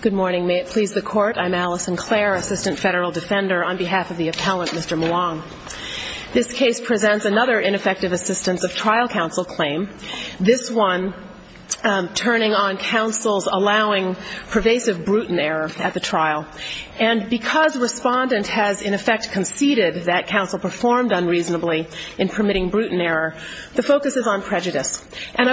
Good morning. May it please the Court, I'm Alice Sinclair, Assistant Federal Defender on behalf of the appellant, Mr. Maong. This case presents another ineffective assistance of trial counsel claim, this one turning on counsel's allowing pervasive brutal error at the trial. And because respondent has in effect conceded that counsel performed unreasonably in permitting And I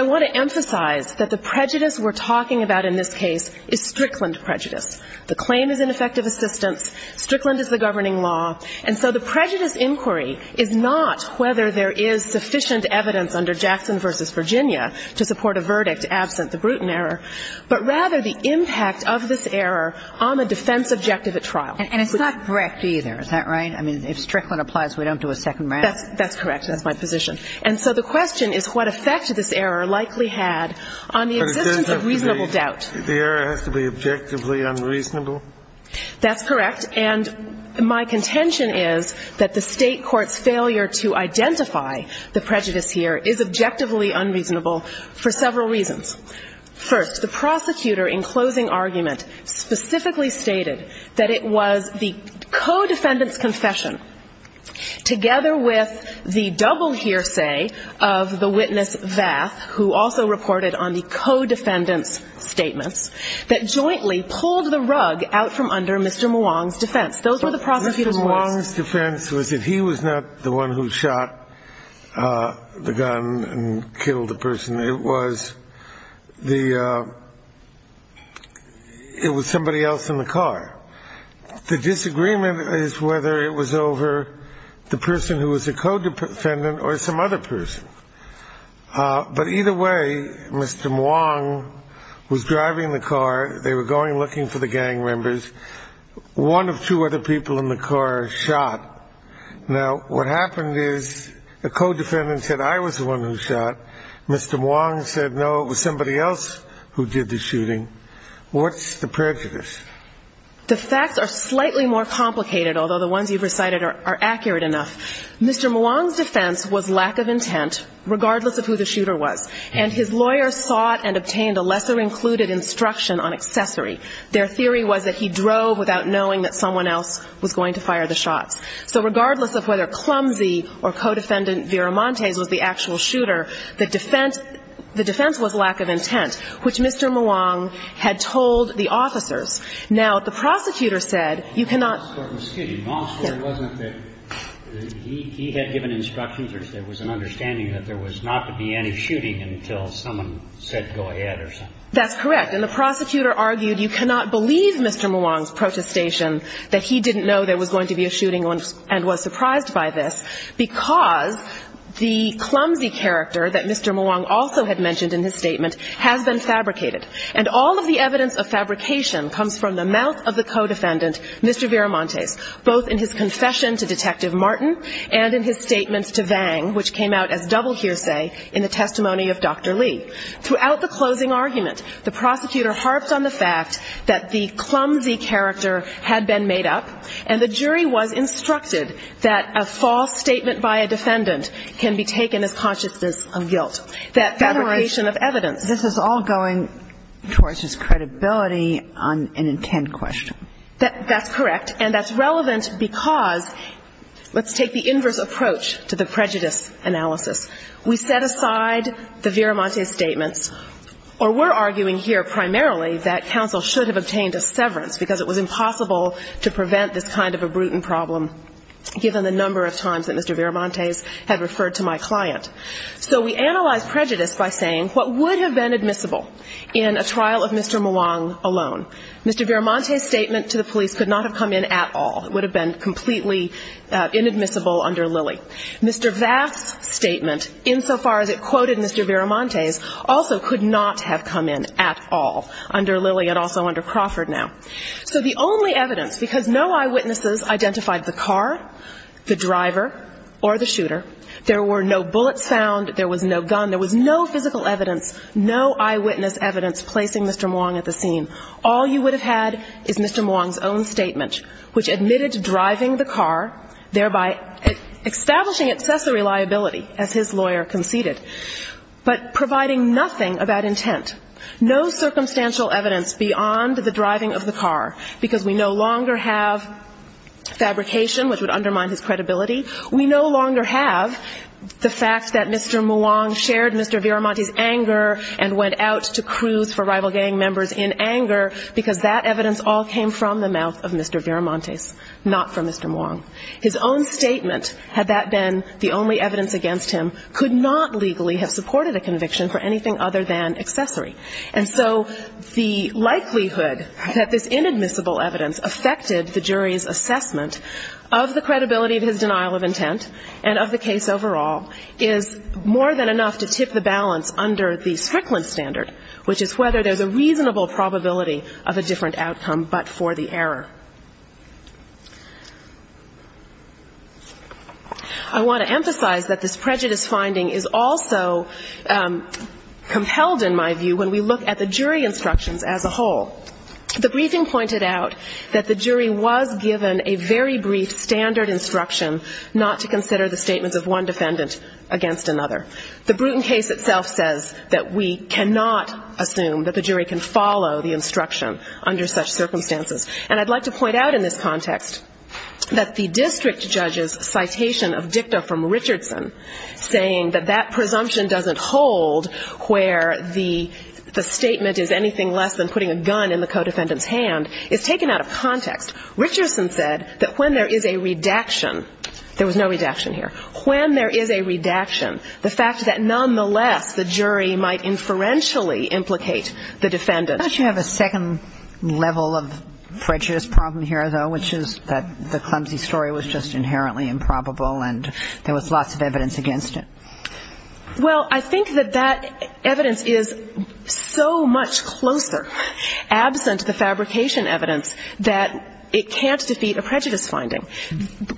want to emphasize that the prejudice we're talking about in this case is Strickland prejudice. The claim is ineffective assistance. Strickland is the governing law. And so the prejudice inquiry is not whether there is sufficient evidence under Jackson v. Virginia to support a verdict absent the brutal error, but rather the impact of this error on the defense objective at trial. And it's not correct either, is that right? I mean, if Strickland applies, we don't do a second round? That's correct. That's my position. And so the question is what effect this error likely had on the existence of reasonable doubt. The error has to be objectively unreasonable? That's correct. And my contention is that the State court's failure to identify the prejudice here is objectively unreasonable for several reasons. First, the prosecutor in closing argument specifically stated that it was the co-defendant's confession together with the double hearsay of the witness Vath, who also reported on the co-defendant's statements, that jointly pulled the rug out from under Mr. Mwang's defense. Those were the prosecutor's words. Mr. Mwang's defense was that he was not the one who shot the gun and killed the person. It was the ‑‑ it was somebody else in the car. The disagreement is whether it was over the person who was a co-defendant or some other person. But either way, Mr. Mwang was driving the car. They were going looking for the gang members. One of two other people in the car shot. Now, what happened is the co-defendant said I was the one who shot. Mr. Mwang said, no, it was somebody else who did the shooting. What's the prejudice? The facts are slightly more complicated, although the ones you've recited are accurate enough. Mr. Mwang's defense was lack of intent, regardless of who the shooter was. And his lawyer sought and obtained a lesser included instruction on accessory. Their theory was that he drove without knowing that someone else was going to fire the shots. So regardless of whether clumsy or co‑defendant Viramontes was the actual shooter, the defense was lack of intent, which Mr. Mwang had told the officers. Now, the prosecutor said you cannot ‑‑ The law court was skidding. The law court wasn't that ‑‑ he had given instructions or there was an understanding that there was not to be any shooting until someone said go ahead or something. That's correct. And the prosecutor argued you cannot believe Mr. Mwang's protestation that he didn't know there was going to be a shooting and was surprised by this because the clumsy character that Mr. Mwang also had mentioned in his statement has been fabricated. And all of the evidence of fabrication comes from the mouth of the co‑defendant, Mr. Viramontes, both in his confession to Detective Martin and in his statements to Vang, which came out as double hearsay in the testimony of Dr. Lee. Throughout the closing argument, the prosecutor harped on the fact that the clumsy character had been made up and the jury was instructed that a false statement by a defendant can be taken as consciousness of guilt. That fabrication of evidence. This is all going towards his credibility on an intent question. That's correct. And that's relevant because let's take the inverse approach to the prejudice analysis. We set aside the Viramontes statements, or we're arguing here primarily that counsel should have obtained a severance because it was impossible to prevent this kind of brute and problem given the number of times that Mr. Viramontes had referred to my client. So we analyzed prejudice by saying what would have been admissible in a trial of Mr. Mwang alone. Mr. Viramontes' statement to the police could not have come in at all. It would have been completely inadmissible under Lilly. Mr. Vaff's statement, insofar as it quoted Mr. Viramontes, also could not have come in at all under Lilly and also under Crawford now. So the only evidence, because no eyewitnesses identified the car, the driver, or the shooter, there were no bullets found, there was no gun, there was no physical evidence, no eyewitness evidence placing Mr. Mwang at the scene. All you would have had is Mr. Mwang's own statement, which admitted driving the car, thereby establishing accessory liability, as his lawyer conceded, but providing nothing about the car, because we no longer have fabrication, which would undermine his credibility. We no longer have the fact that Mr. Mwang shared Mr. Viramontes' anger and went out to cruise for rival gang members in anger, because that evidence all came from the mouth of Mr. Viramontes, not from Mr. Mwang. His own statement, had that been the only evidence against him, could not legally have supported a conviction for anything other than accessory. So the only evidence that this inadmissible evidence affected the jury's assessment of the credibility of his denial of intent and of the case overall is more than enough to tip the balance under the Strickland standard, which is whether there's a reasonable probability of a different outcome but for the error. I want to emphasize that this prejudice finding is also compelled, in my view, when we look at the jury instructions as a whole. The briefing pointed out that the jury was given a very brief standard instruction not to consider the statements of one defendant against another. The Bruton case itself says that we cannot assume that the jury can follow the instruction under such circumstances. And I'd like to point out in this context that the district judge's citation of dicta from Richardson, saying that that presumption doesn't hold where the statement is anything less than putting a gun in the co-defendant's hand, is taken out of context. Richardson said that when there is a redaction, there was no redaction here, when there is a redaction, the fact that nonetheless the jury might inferentially implicate the defendant. Don't you have a second level of prejudice problem here, though, which is that the clumsy story was just inherently improbable and there was lots of evidence against it? Well, I think that that evidence is so much closer, absent the fabrication evidence, that it can't defeat a prejudice finding.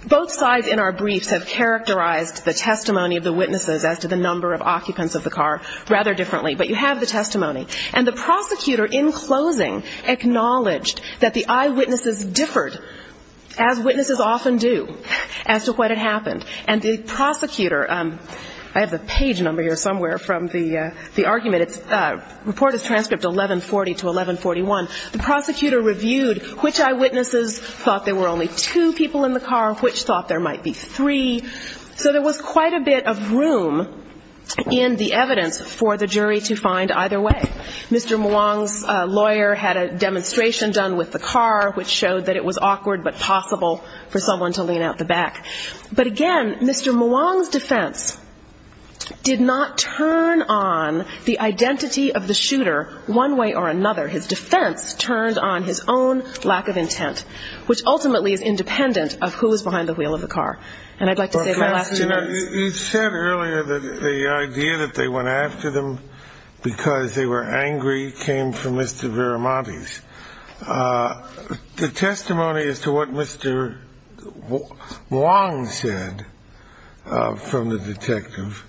Both sides in our briefs have characterized the testimony of the witnesses as to the number of occupants of the car rather differently, but you have the testimony. And the prosecutor in closing acknowledged that the eyewitnesses differed, as witnesses often do, as to what had happened. And the prosecutor, I have the page number here somewhere from the argument. It's Report as Transcript 1140 to 1141. The prosecutor reviewed which eyewitnesses thought there were only two people in the car, which thought there might be three. So there was quite a bit of room in the evidence for the jury to find either way. Mr. Muang's lawyer had a demonstration done with the car, which showed that it was three people. Mr. Muang's defense did not turn on the identity of the shooter one way or another. His defense turned on his own lack of intent, which ultimately is independent of who was behind the wheel of the car. Professor, you said earlier that the idea that they went after them because they were angry came from Mr. Viramonte's. The testimony as to what Mr. Muang said from the detective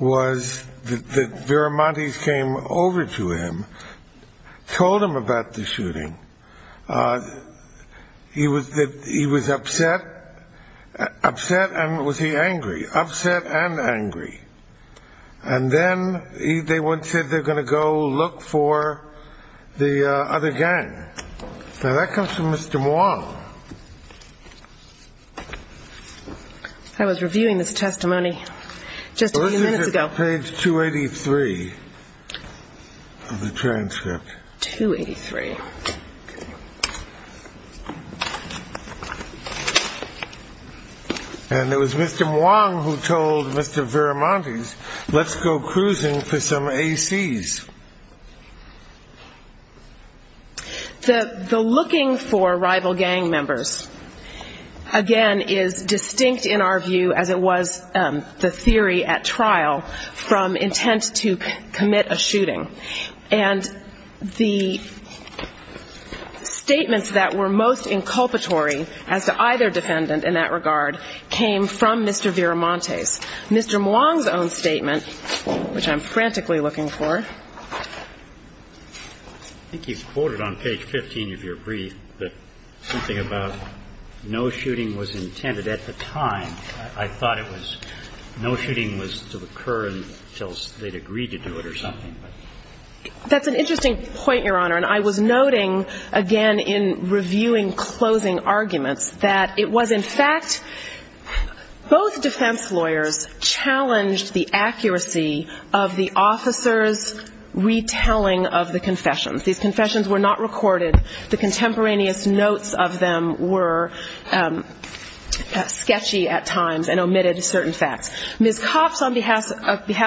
was that Viramonte's came over to him, told him about the shooting. He was upset, upset, and was he angry? Upset and angry. And then they said they're going to go look for the other gang. Now, that comes from Mr. Muang, who was looking for the other gang. I was reviewing this testimony just a few minutes ago. This is page 283 of the transcript. 283. And it was Mr. Muang who told Mr. Viramonte's, let's go cruising for some A.C.s. The looking for rival gang members, the looking for rival gang members, the looking for rival gang members, again, is distinct in our view, as it was the theory at trial, from intent to commit a shooting. And the statements that were most inculpatory as to either defendant in that regard came from Mr. Viramonte's. Mr. Muang's own statement, which I'm frantically looking for. I think you quoted on page 15 of your brief that something about no shooting was intended at the time. I thought it was no shooting was to occur until they'd agreed to do it or something. That's an interesting point, Your Honor. And I was noting, again, in reviewing closing arguments, that it was, in fact, both defense lawyers challenged the accuracy of the officer's retelling of the confession. These confessions were not recorded. The contemporaneous notes of them were sketchy at times and omitted certain facts. Ms. Copps, on behalf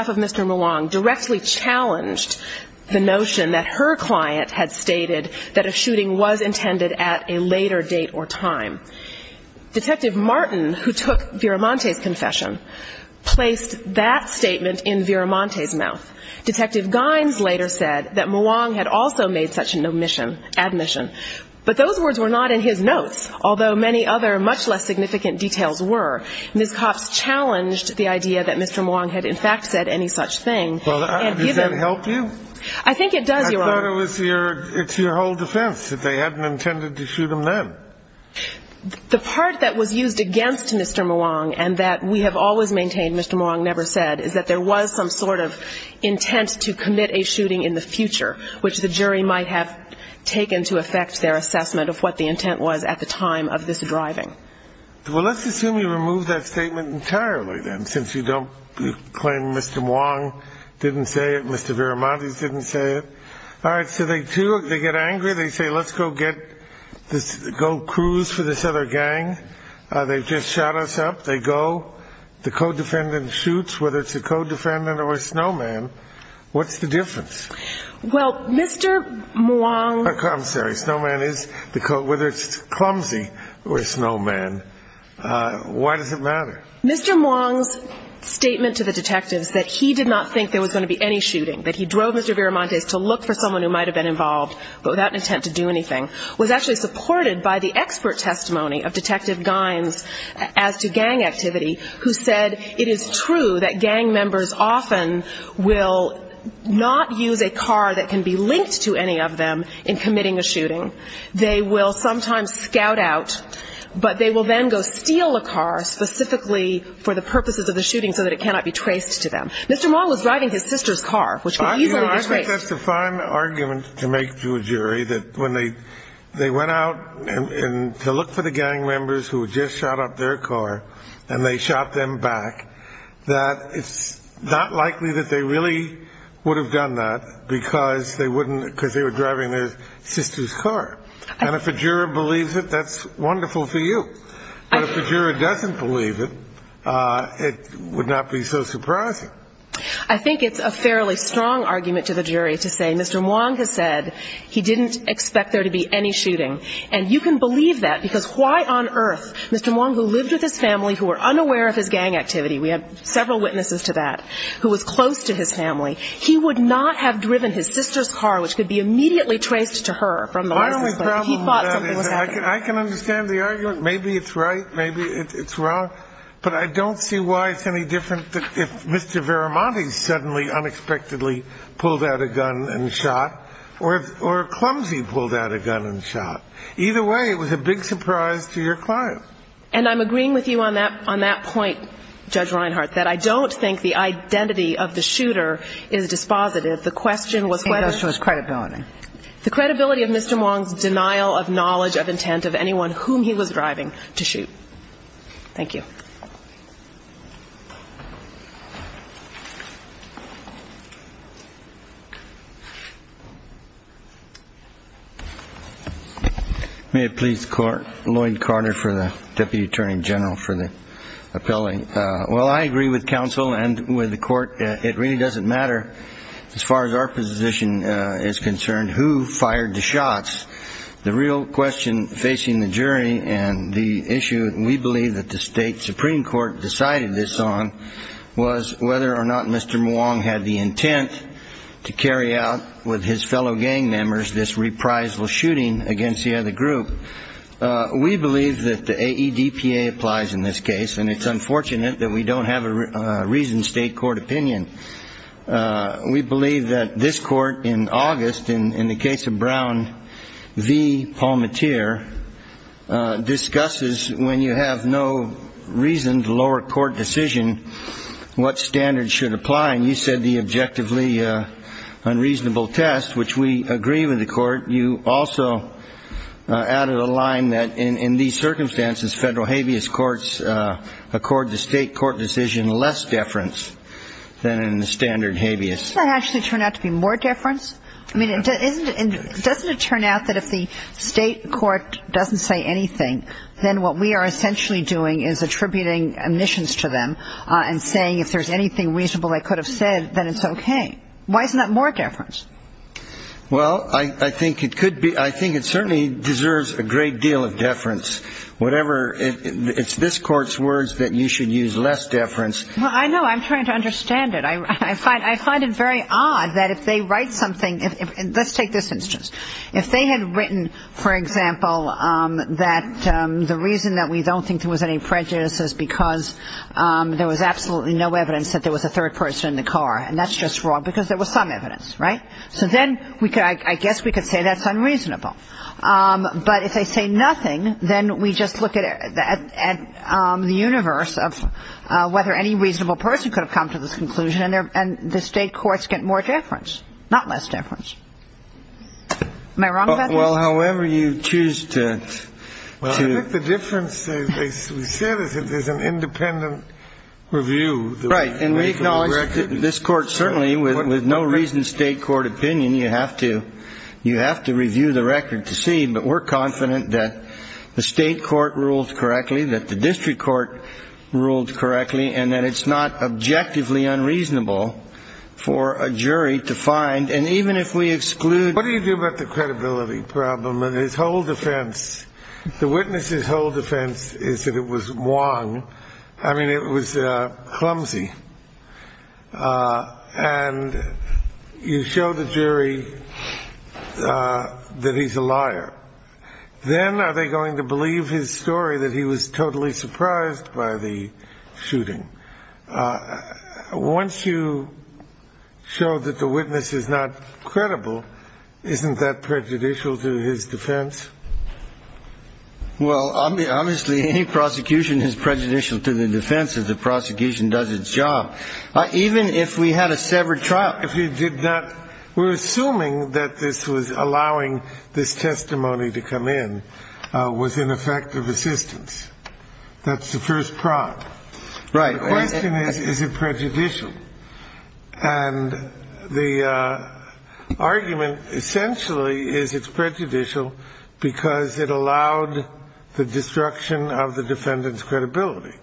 of Mr. Muang, directly challenged the notion that her client had stated that a shooting was intended at a later date or time. Detective Martin, who took Viramonte's confession, placed that statement in Viramonte's mouth. Detective Gynes later said that Muang had also made such an admission. But those words were not in his notes, although many other, much less significant details were. Ms. Copps challenged the idea that Mr. Muang had, in fact, said any such thing. Does that help you? I think it does, Your Honor. I thought it was your whole defense, that they hadn't intended to shoot him then. The part that was used against Mr. Muang, and that we have always maintained Mr. Muang never said, is that there was some sort of intent to commit a shooting in the future, which the jury might have taken to affect their assessment of what the intent was at the time of this driving. Well, let's assume you remove that statement entirely, then, since you don't claim Mr. Muang didn't say it, Mr. Viramonte didn't say it. All right. So they do. They get angry. They say, let's go get this go-cruise for this other guy, and they just shot us up. They go. The co-defendant shoots, whether it's a co-defendant or a snowman. What's the difference? Well, Mr. Muang... I'm sorry. Snowman is the co-defendant. Whether it's clumsy or a snowman, why does it matter? Mr. Muang's statement to the detectives that he did not think there was going to be any shooting, that he drove Mr. Viramonte to look for someone who might have been involved, but without an intent to do anything, was actually supported by the expert testimony of Detective Gynes as to gang activity, who said it is true that gang members often will not use a car that can be linked to any of them in committing a shooting. They will sometimes scout out, but they will then go steal a car specifically for the purposes of the shooting so that it cannot be traced to them. Mr. Muang was driving his sister's car, which could easily be traced. I think that's a fine argument to make to a jury, that when they went out to look for the gang members who had just shot up their car and they shot them back, that it's not likely that they really would have done that because they were driving their sister's car. And if a juror believes it, that's wonderful for you. But if a juror doesn't believe it, it would not be so necessary to say Mr. Muang has said he didn't expect there to be any shooting. And you can believe that because why on earth, Mr. Muang, who lived with his family, who were unaware of his gang activity, we have several witnesses to that, who was close to his family, he would not have driven his sister's car, which could be immediately traced to her from the license plate, if he thought something was happening. I can understand the argument. Maybe it's right. Maybe it's wrong. But I don't see why it's any different if Mr. Viramonte suddenly pulled out a gun and shot or Clumsy pulled out a gun and shot. Either way, it was a big surprise to your client. And I'm agreeing with you on that point, Judge Reinhart, that I don't think the identity of the shooter is dispositive. The question was whether the credibility of Mr. Muang's denial of knowledge of intent of anyone whom he was driving to shoot. Thank you. May it please the Court. Lloyd Carter for the Deputy Attorney General for the appellate. Well, I agree with counsel and with the Court. It really doesn't matter as far as our position is concerned who fired the shots. The real question facing the jury and the issue we believe that the state Supreme Court decided this on was whether or not Mr. Muang had the intent to carry out with his fellow gang members this reprisal shooting against the other group. We believe that the AEDPA applies in this case, and it's unfortunate that we don't have a reasoned state court opinion. We believe that this Court in August, in the case of Brown v. Palmatier, discusses when you have no reasoned lower court decision, what standard should apply. And you said the objectively unreasonable test, which we agree with the Court. You also added a line that in these circumstances, federal habeas courts accord the state court decision less deference than in the standard habeas. Doesn't it actually turn out to be more deference? I mean, doesn't it turn out that if the state court doesn't say anything, then what we are essentially doing is attributing omissions to them and saying if there's anything reasonable they could have said. Why isn't that more deference? Well, I think it could be. I think it certainly deserves a great deal of deference. Whatever. It's this Court's words that you should use less deference. Well, I know. I'm trying to understand it. I find it very odd that if they write something. Let's take this instance. If they had written, for example, that the reason that we don't think there was any prejudice is because there was absolutely no evidence that there was a third person in the call. And that's just wrong because there was some evidence. Right. So then I guess we could say that's unreasonable. But if they say nothing, then we just look at the universe of whether any reasonable person could have come to this conclusion and the state courts get more deference, not less deference. Am I wrong about this? Well, however you choose to. Well, I think the difference they said is that there's an independent review. Right. And we acknowledge that this Court certainly with no reason state court opinion, you have to you have to review the record to see. But we're confident that the state court rules correctly, that the district court ruled correctly, and that it's not objectively unreasonable for a jury to find. And even if we exclude what do you do about the credibility problem and his whole defense, the witness's whole defense is that it was wrong. I mean, it was clumsy. And you show the jury that he's a liar. Then are they going to believe his story that he was totally surprised by the shooting? Once you show that the witness is not credible, isn't that prejudicial to his defense? Well, obviously, any prosecution is prejudicial to the defense of the prosecution does its job. Even if we had a severed trial. If you did that, we're assuming that this was allowing this testimony to come in with ineffective assistance. That's the first prop. Right. The question is, is it prejudicial? And the argument essentially is it's prejudicial because it allowed the destruction of the defendant's credibility.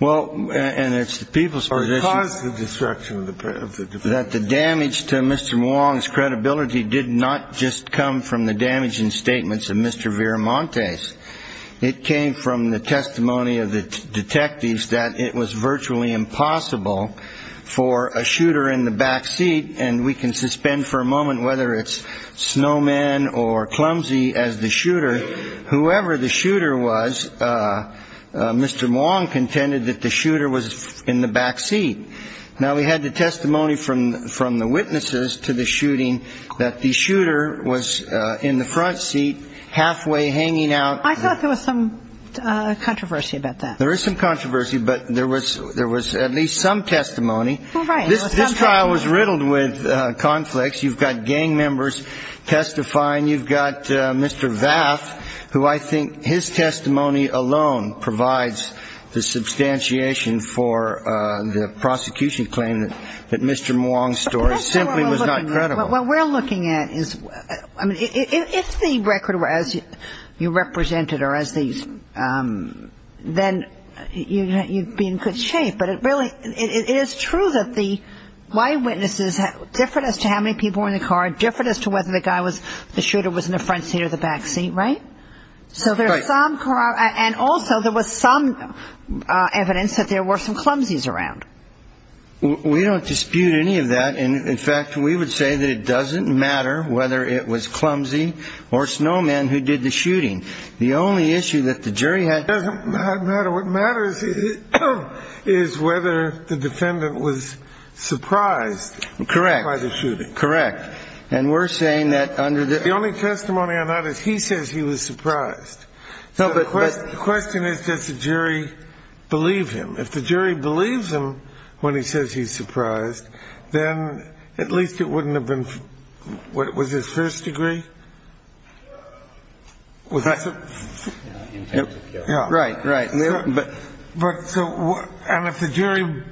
Well, and it's the people's position that the damage to Mr. Wong's credibility did not just come from the damaging statements of Mr. Viramontes. It came from the testimony of the detectives that it was virtually impossible for a shooter in the backseat. And we can suspend for a moment whether it's snowman or clumsy as the shooter, whoever the shooter was, Mr. Wong contended that the shooter was in the backseat. Now, we had the testimony from from the witnesses to the shooting that the shooter was in the front seat, halfway hanging out of the backseat. I thought there was some controversy about that. There is some controversy, but there was there was at least some testimony. This trial was riddled with conflicts. You've got gang members testifying. You've got Mr. Vath, who I think his testimony alone provides the substantiation for the prosecution claim that Mr. Wong's story simply was not credible. But what we're looking at is if the record were as you represented or as these, then you'd be in good shape. But it really it is true that the eyewitnesses, different as to how many people were in the car, different as to whether the guy was the shooter was in the front seat or the backseat, right? So there's some and also there was some evidence that there were some clumsies around. We don't dispute any of that. And in fact, we would say that it doesn't matter whether it was clumsy or snowman who did the shooting. The only issue that the jury had doesn't matter. What matters is whether the defendant was surprised. Correct. And we're saying that under the only testimony on that is he says he was surprised. So the question is, does the jury believe him? If the jury believes him when he says he's surprised, then at least it wouldn't have been. What was his first degree? Was that right? Right. But so and if the jury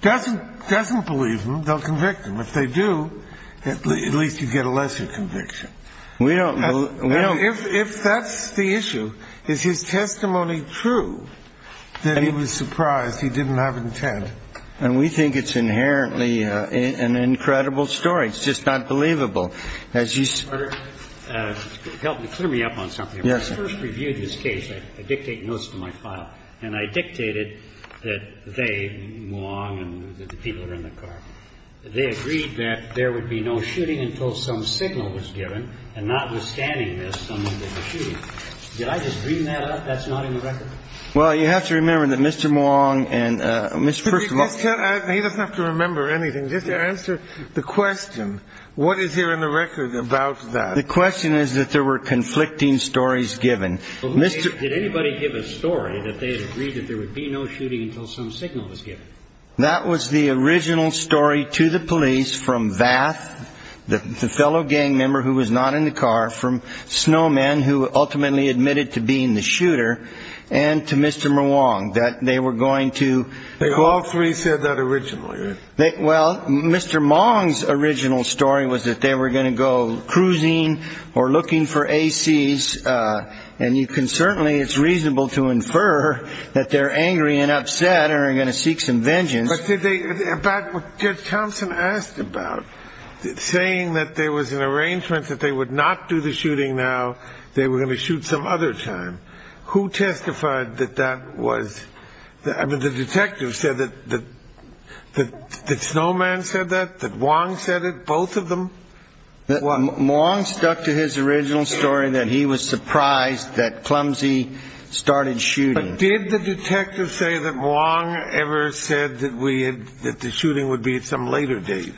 doesn't doesn't believe them, they'll convict him. If they do, at least you get a lesser conviction. We don't know if that's the issue. Is his testimony true that he was surprised he didn't have intent? And we think it's inherently an incredible story. It's just not believable as you help me clear me up on something. Yes. First review this case. I dictate most of my file. And I dictated that they long and the people are in the car. They agreed that there would be no shooting until some signal was given. And notwithstanding this, did I just bring that up? That's not in the record. Well, you have to remember that Mr. Wong and Mr. He doesn't have to remember anything. Just answer the question. What is here in the record about that? The question is that there were conflicting stories given. Did anybody give a story that they agreed that there would be no shooting until some signal was given? That was the original story to the police from Vath, the fellow gang member who was not in the car, from Snowman, who ultimately admitted to being the shooter and to Mr. Wong, that they were going to. They all three said that originally. Well, Mr. Mong's original story was that they were going to go cruising or looking for ACs. And you can certainly it's reasonable to infer that they're angry and upset and are going to seek some vengeance. But did they get Thompson asked about saying that there was an arrangement that they would not do the shooting? Now they were going to shoot some other time. Who testified that that was the detective said that the snowman said that that Wong said it, both of them. Wong stuck to his original story that he was surprised that clumsy started shooting. Did the detective say that Wong ever said that we had that the shooting would be at some later date?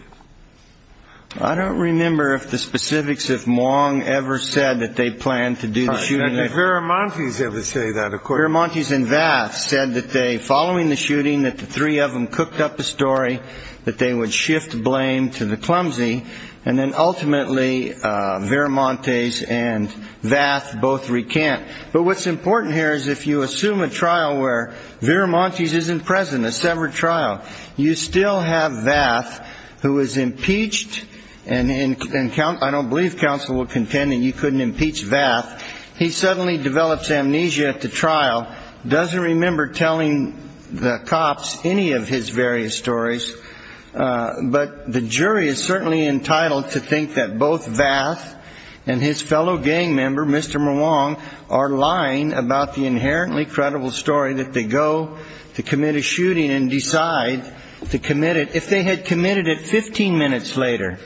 I don't remember if the specifics of Wong ever said that they planned to do the shooting. Varamontes ever say that, of course. Varamontes and Vath said that they following the shooting, that the three of them cooked up the story, that they would shift blame to the clumsy. And then ultimately, Varamontes and Vath both recant. But what's important here is if you assume a trial where Varamontes isn't present, a severed trial, you still have Vath who is impeached. And I don't believe counsel will contend that you couldn't impeach Vath. He suddenly develops amnesia at the trial, doesn't remember telling the cops any of his various stories. But the jury is certainly entitled to think that both Vath and his fellow gang member, Mr. Mwang, are lying about the inherently credible story that they go to commit a shooting and decide to commit it. If they had committed it 15 minutes later,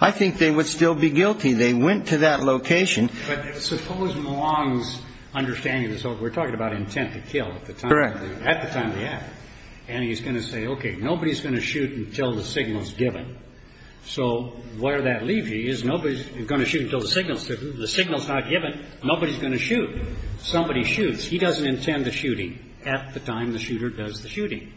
I think they would still be guilty. They went to that location. But suppose Mwang's understanding is we're talking about intent to kill at the time of the attack. And he's going to say, OK, nobody's going to shoot until the signal's given. So where that leaves you is nobody's going to shoot until the signal's given. The signal's not given. Nobody's going to shoot. Somebody shoots. He doesn't intend the shooting at the time the shooter does the shooting.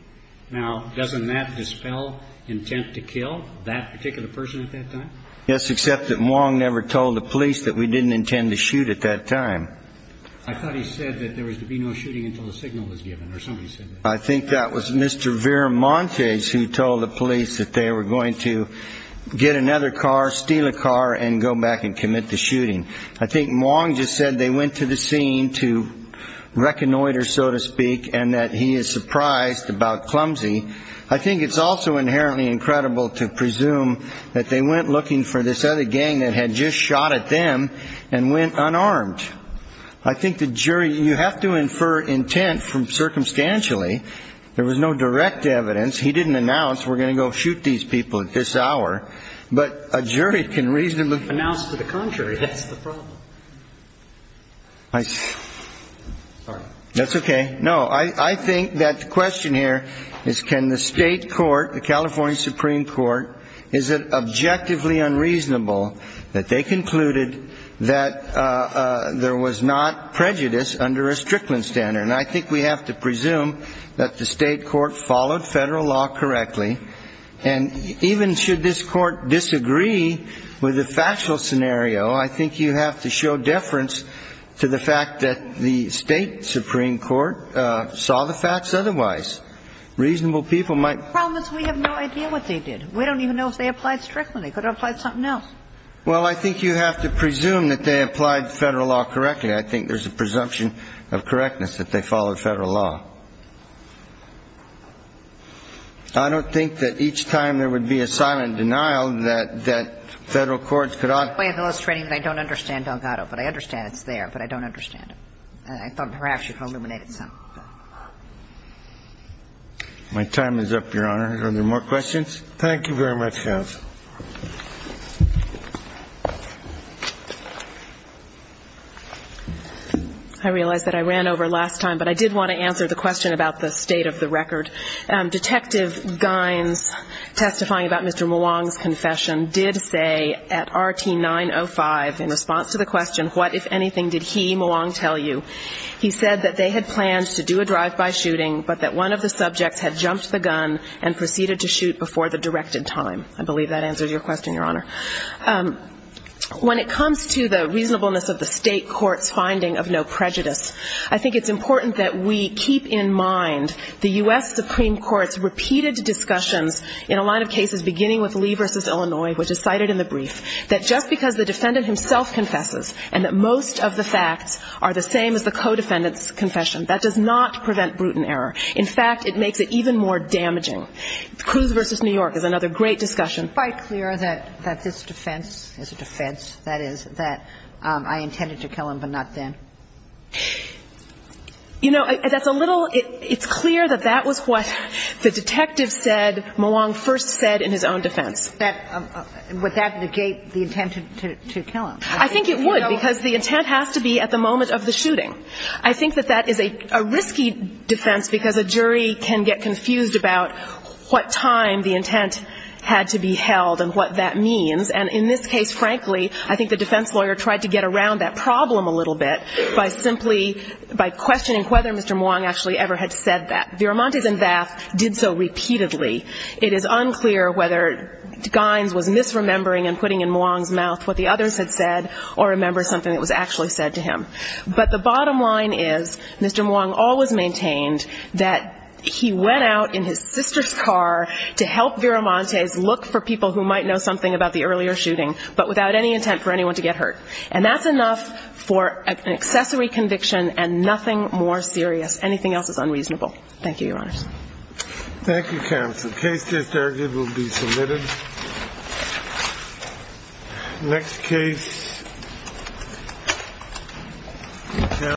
Now, doesn't that dispel intent to kill that particular person at that time? Yes, except that Mwang never told the police that we didn't intend to shoot at that time. I thought he said that there was to be no shooting until the signal was given or somebody said that. I think that was Mr. Veramontes who told the police that they were going to get another car, steal a car and go back and commit the shooting. I think Mwang just said they went to the scene to reconnoiter, so to speak, and that he is surprised about Clumsy. I think it's also inherently incredible to presume that they went looking for this other gang that had just shot at them and went unarmed. I think the jury you have to infer intent from circumstantially. There was no direct evidence. He didn't announce we're going to go shoot these people at this hour. But a jury can reasonably announce to the contrary. That's the problem. That's OK. No, I think that the question here is can the state court, the California Supreme Court, is it objectively unreasonable that they concluded that there was not prejudice under a Strickland standard? And I think we have to presume that the state court followed federal law correctly. And even should this court disagree with the factual scenario, I think you have to show deference to the fact that the state Supreme Court saw the facts otherwise. Reasonable people might Problem is we have no idea what they did. We don't even know if they applied Strickland. They could have applied something else. Well, I think you have to presume that they applied federal law correctly. I think there's a presumption of correctness that they followed federal law. I don't think that each time there would be a silent denial that federal courts would have to do something about it. I think the question is, is there a way of illustrating that I don't understand Delgado, but I understand it's there, but I don't understand it. I thought perhaps you could illuminate it some. My time is up, Your Honor. Are there more questions? Thank you very much, Counsel. I realize that I ran over last time, but I did want to answer the question about the state of the record. Detective Gynes testifying about Mr. Muang's confession did say at RT905 in response to the question, what, if anything, did he, Muang, tell you? He said that they had planned to do a drive-by shooting, but that one of the subjects had jumped the gun and proceeded to shoot before the directed time. I believe that is correct. That answers your question, Your Honor. When it comes to the reasonableness of the state court's finding of no prejudice, I think it's important that we keep in mind the U.S. Supreme Court's repeated discussions in a line of cases beginning with Lee v. Illinois, which is cited in the brief, that just because the defendant himself confesses and that most of the facts are the same as the co-defendant's confession, that does not prevent brutal injuries. In fact, it makes it even more damaging. Cruz v. New York is another great discussion. By clear that this defense is a defense, that is, that I intended to kill him but not then? You know, that's a little ‑‑ it's clear that that was what the detective said Muang first said in his own defense. I think it would because the intent has to be at the moment of the shooting. Because a jury can get confused about what time the intent had to be held and what that means. And in this case, frankly, I think the defense lawyer tried to get around that problem a little bit by simply, by questioning whether Mr. Muang actually ever had said that. Viramontes and Vath did so repeatedly. It is unclear whether Gynes was misremembering and putting in Muang's mouth what the others had said or remember something that was actually said to him. But the bottom line is, Mr. Muang always maintained that he went out in his sister's car to help Viramontes look for people who might know something about the earlier shooting, but without any intent for anyone to get hurt. And that's enough for an accessory conviction and nothing more serious. Anything else is unreasonable. Thank you, Your Honors. Thank you, Counsel. The case is there. It will be submitted. Thank you.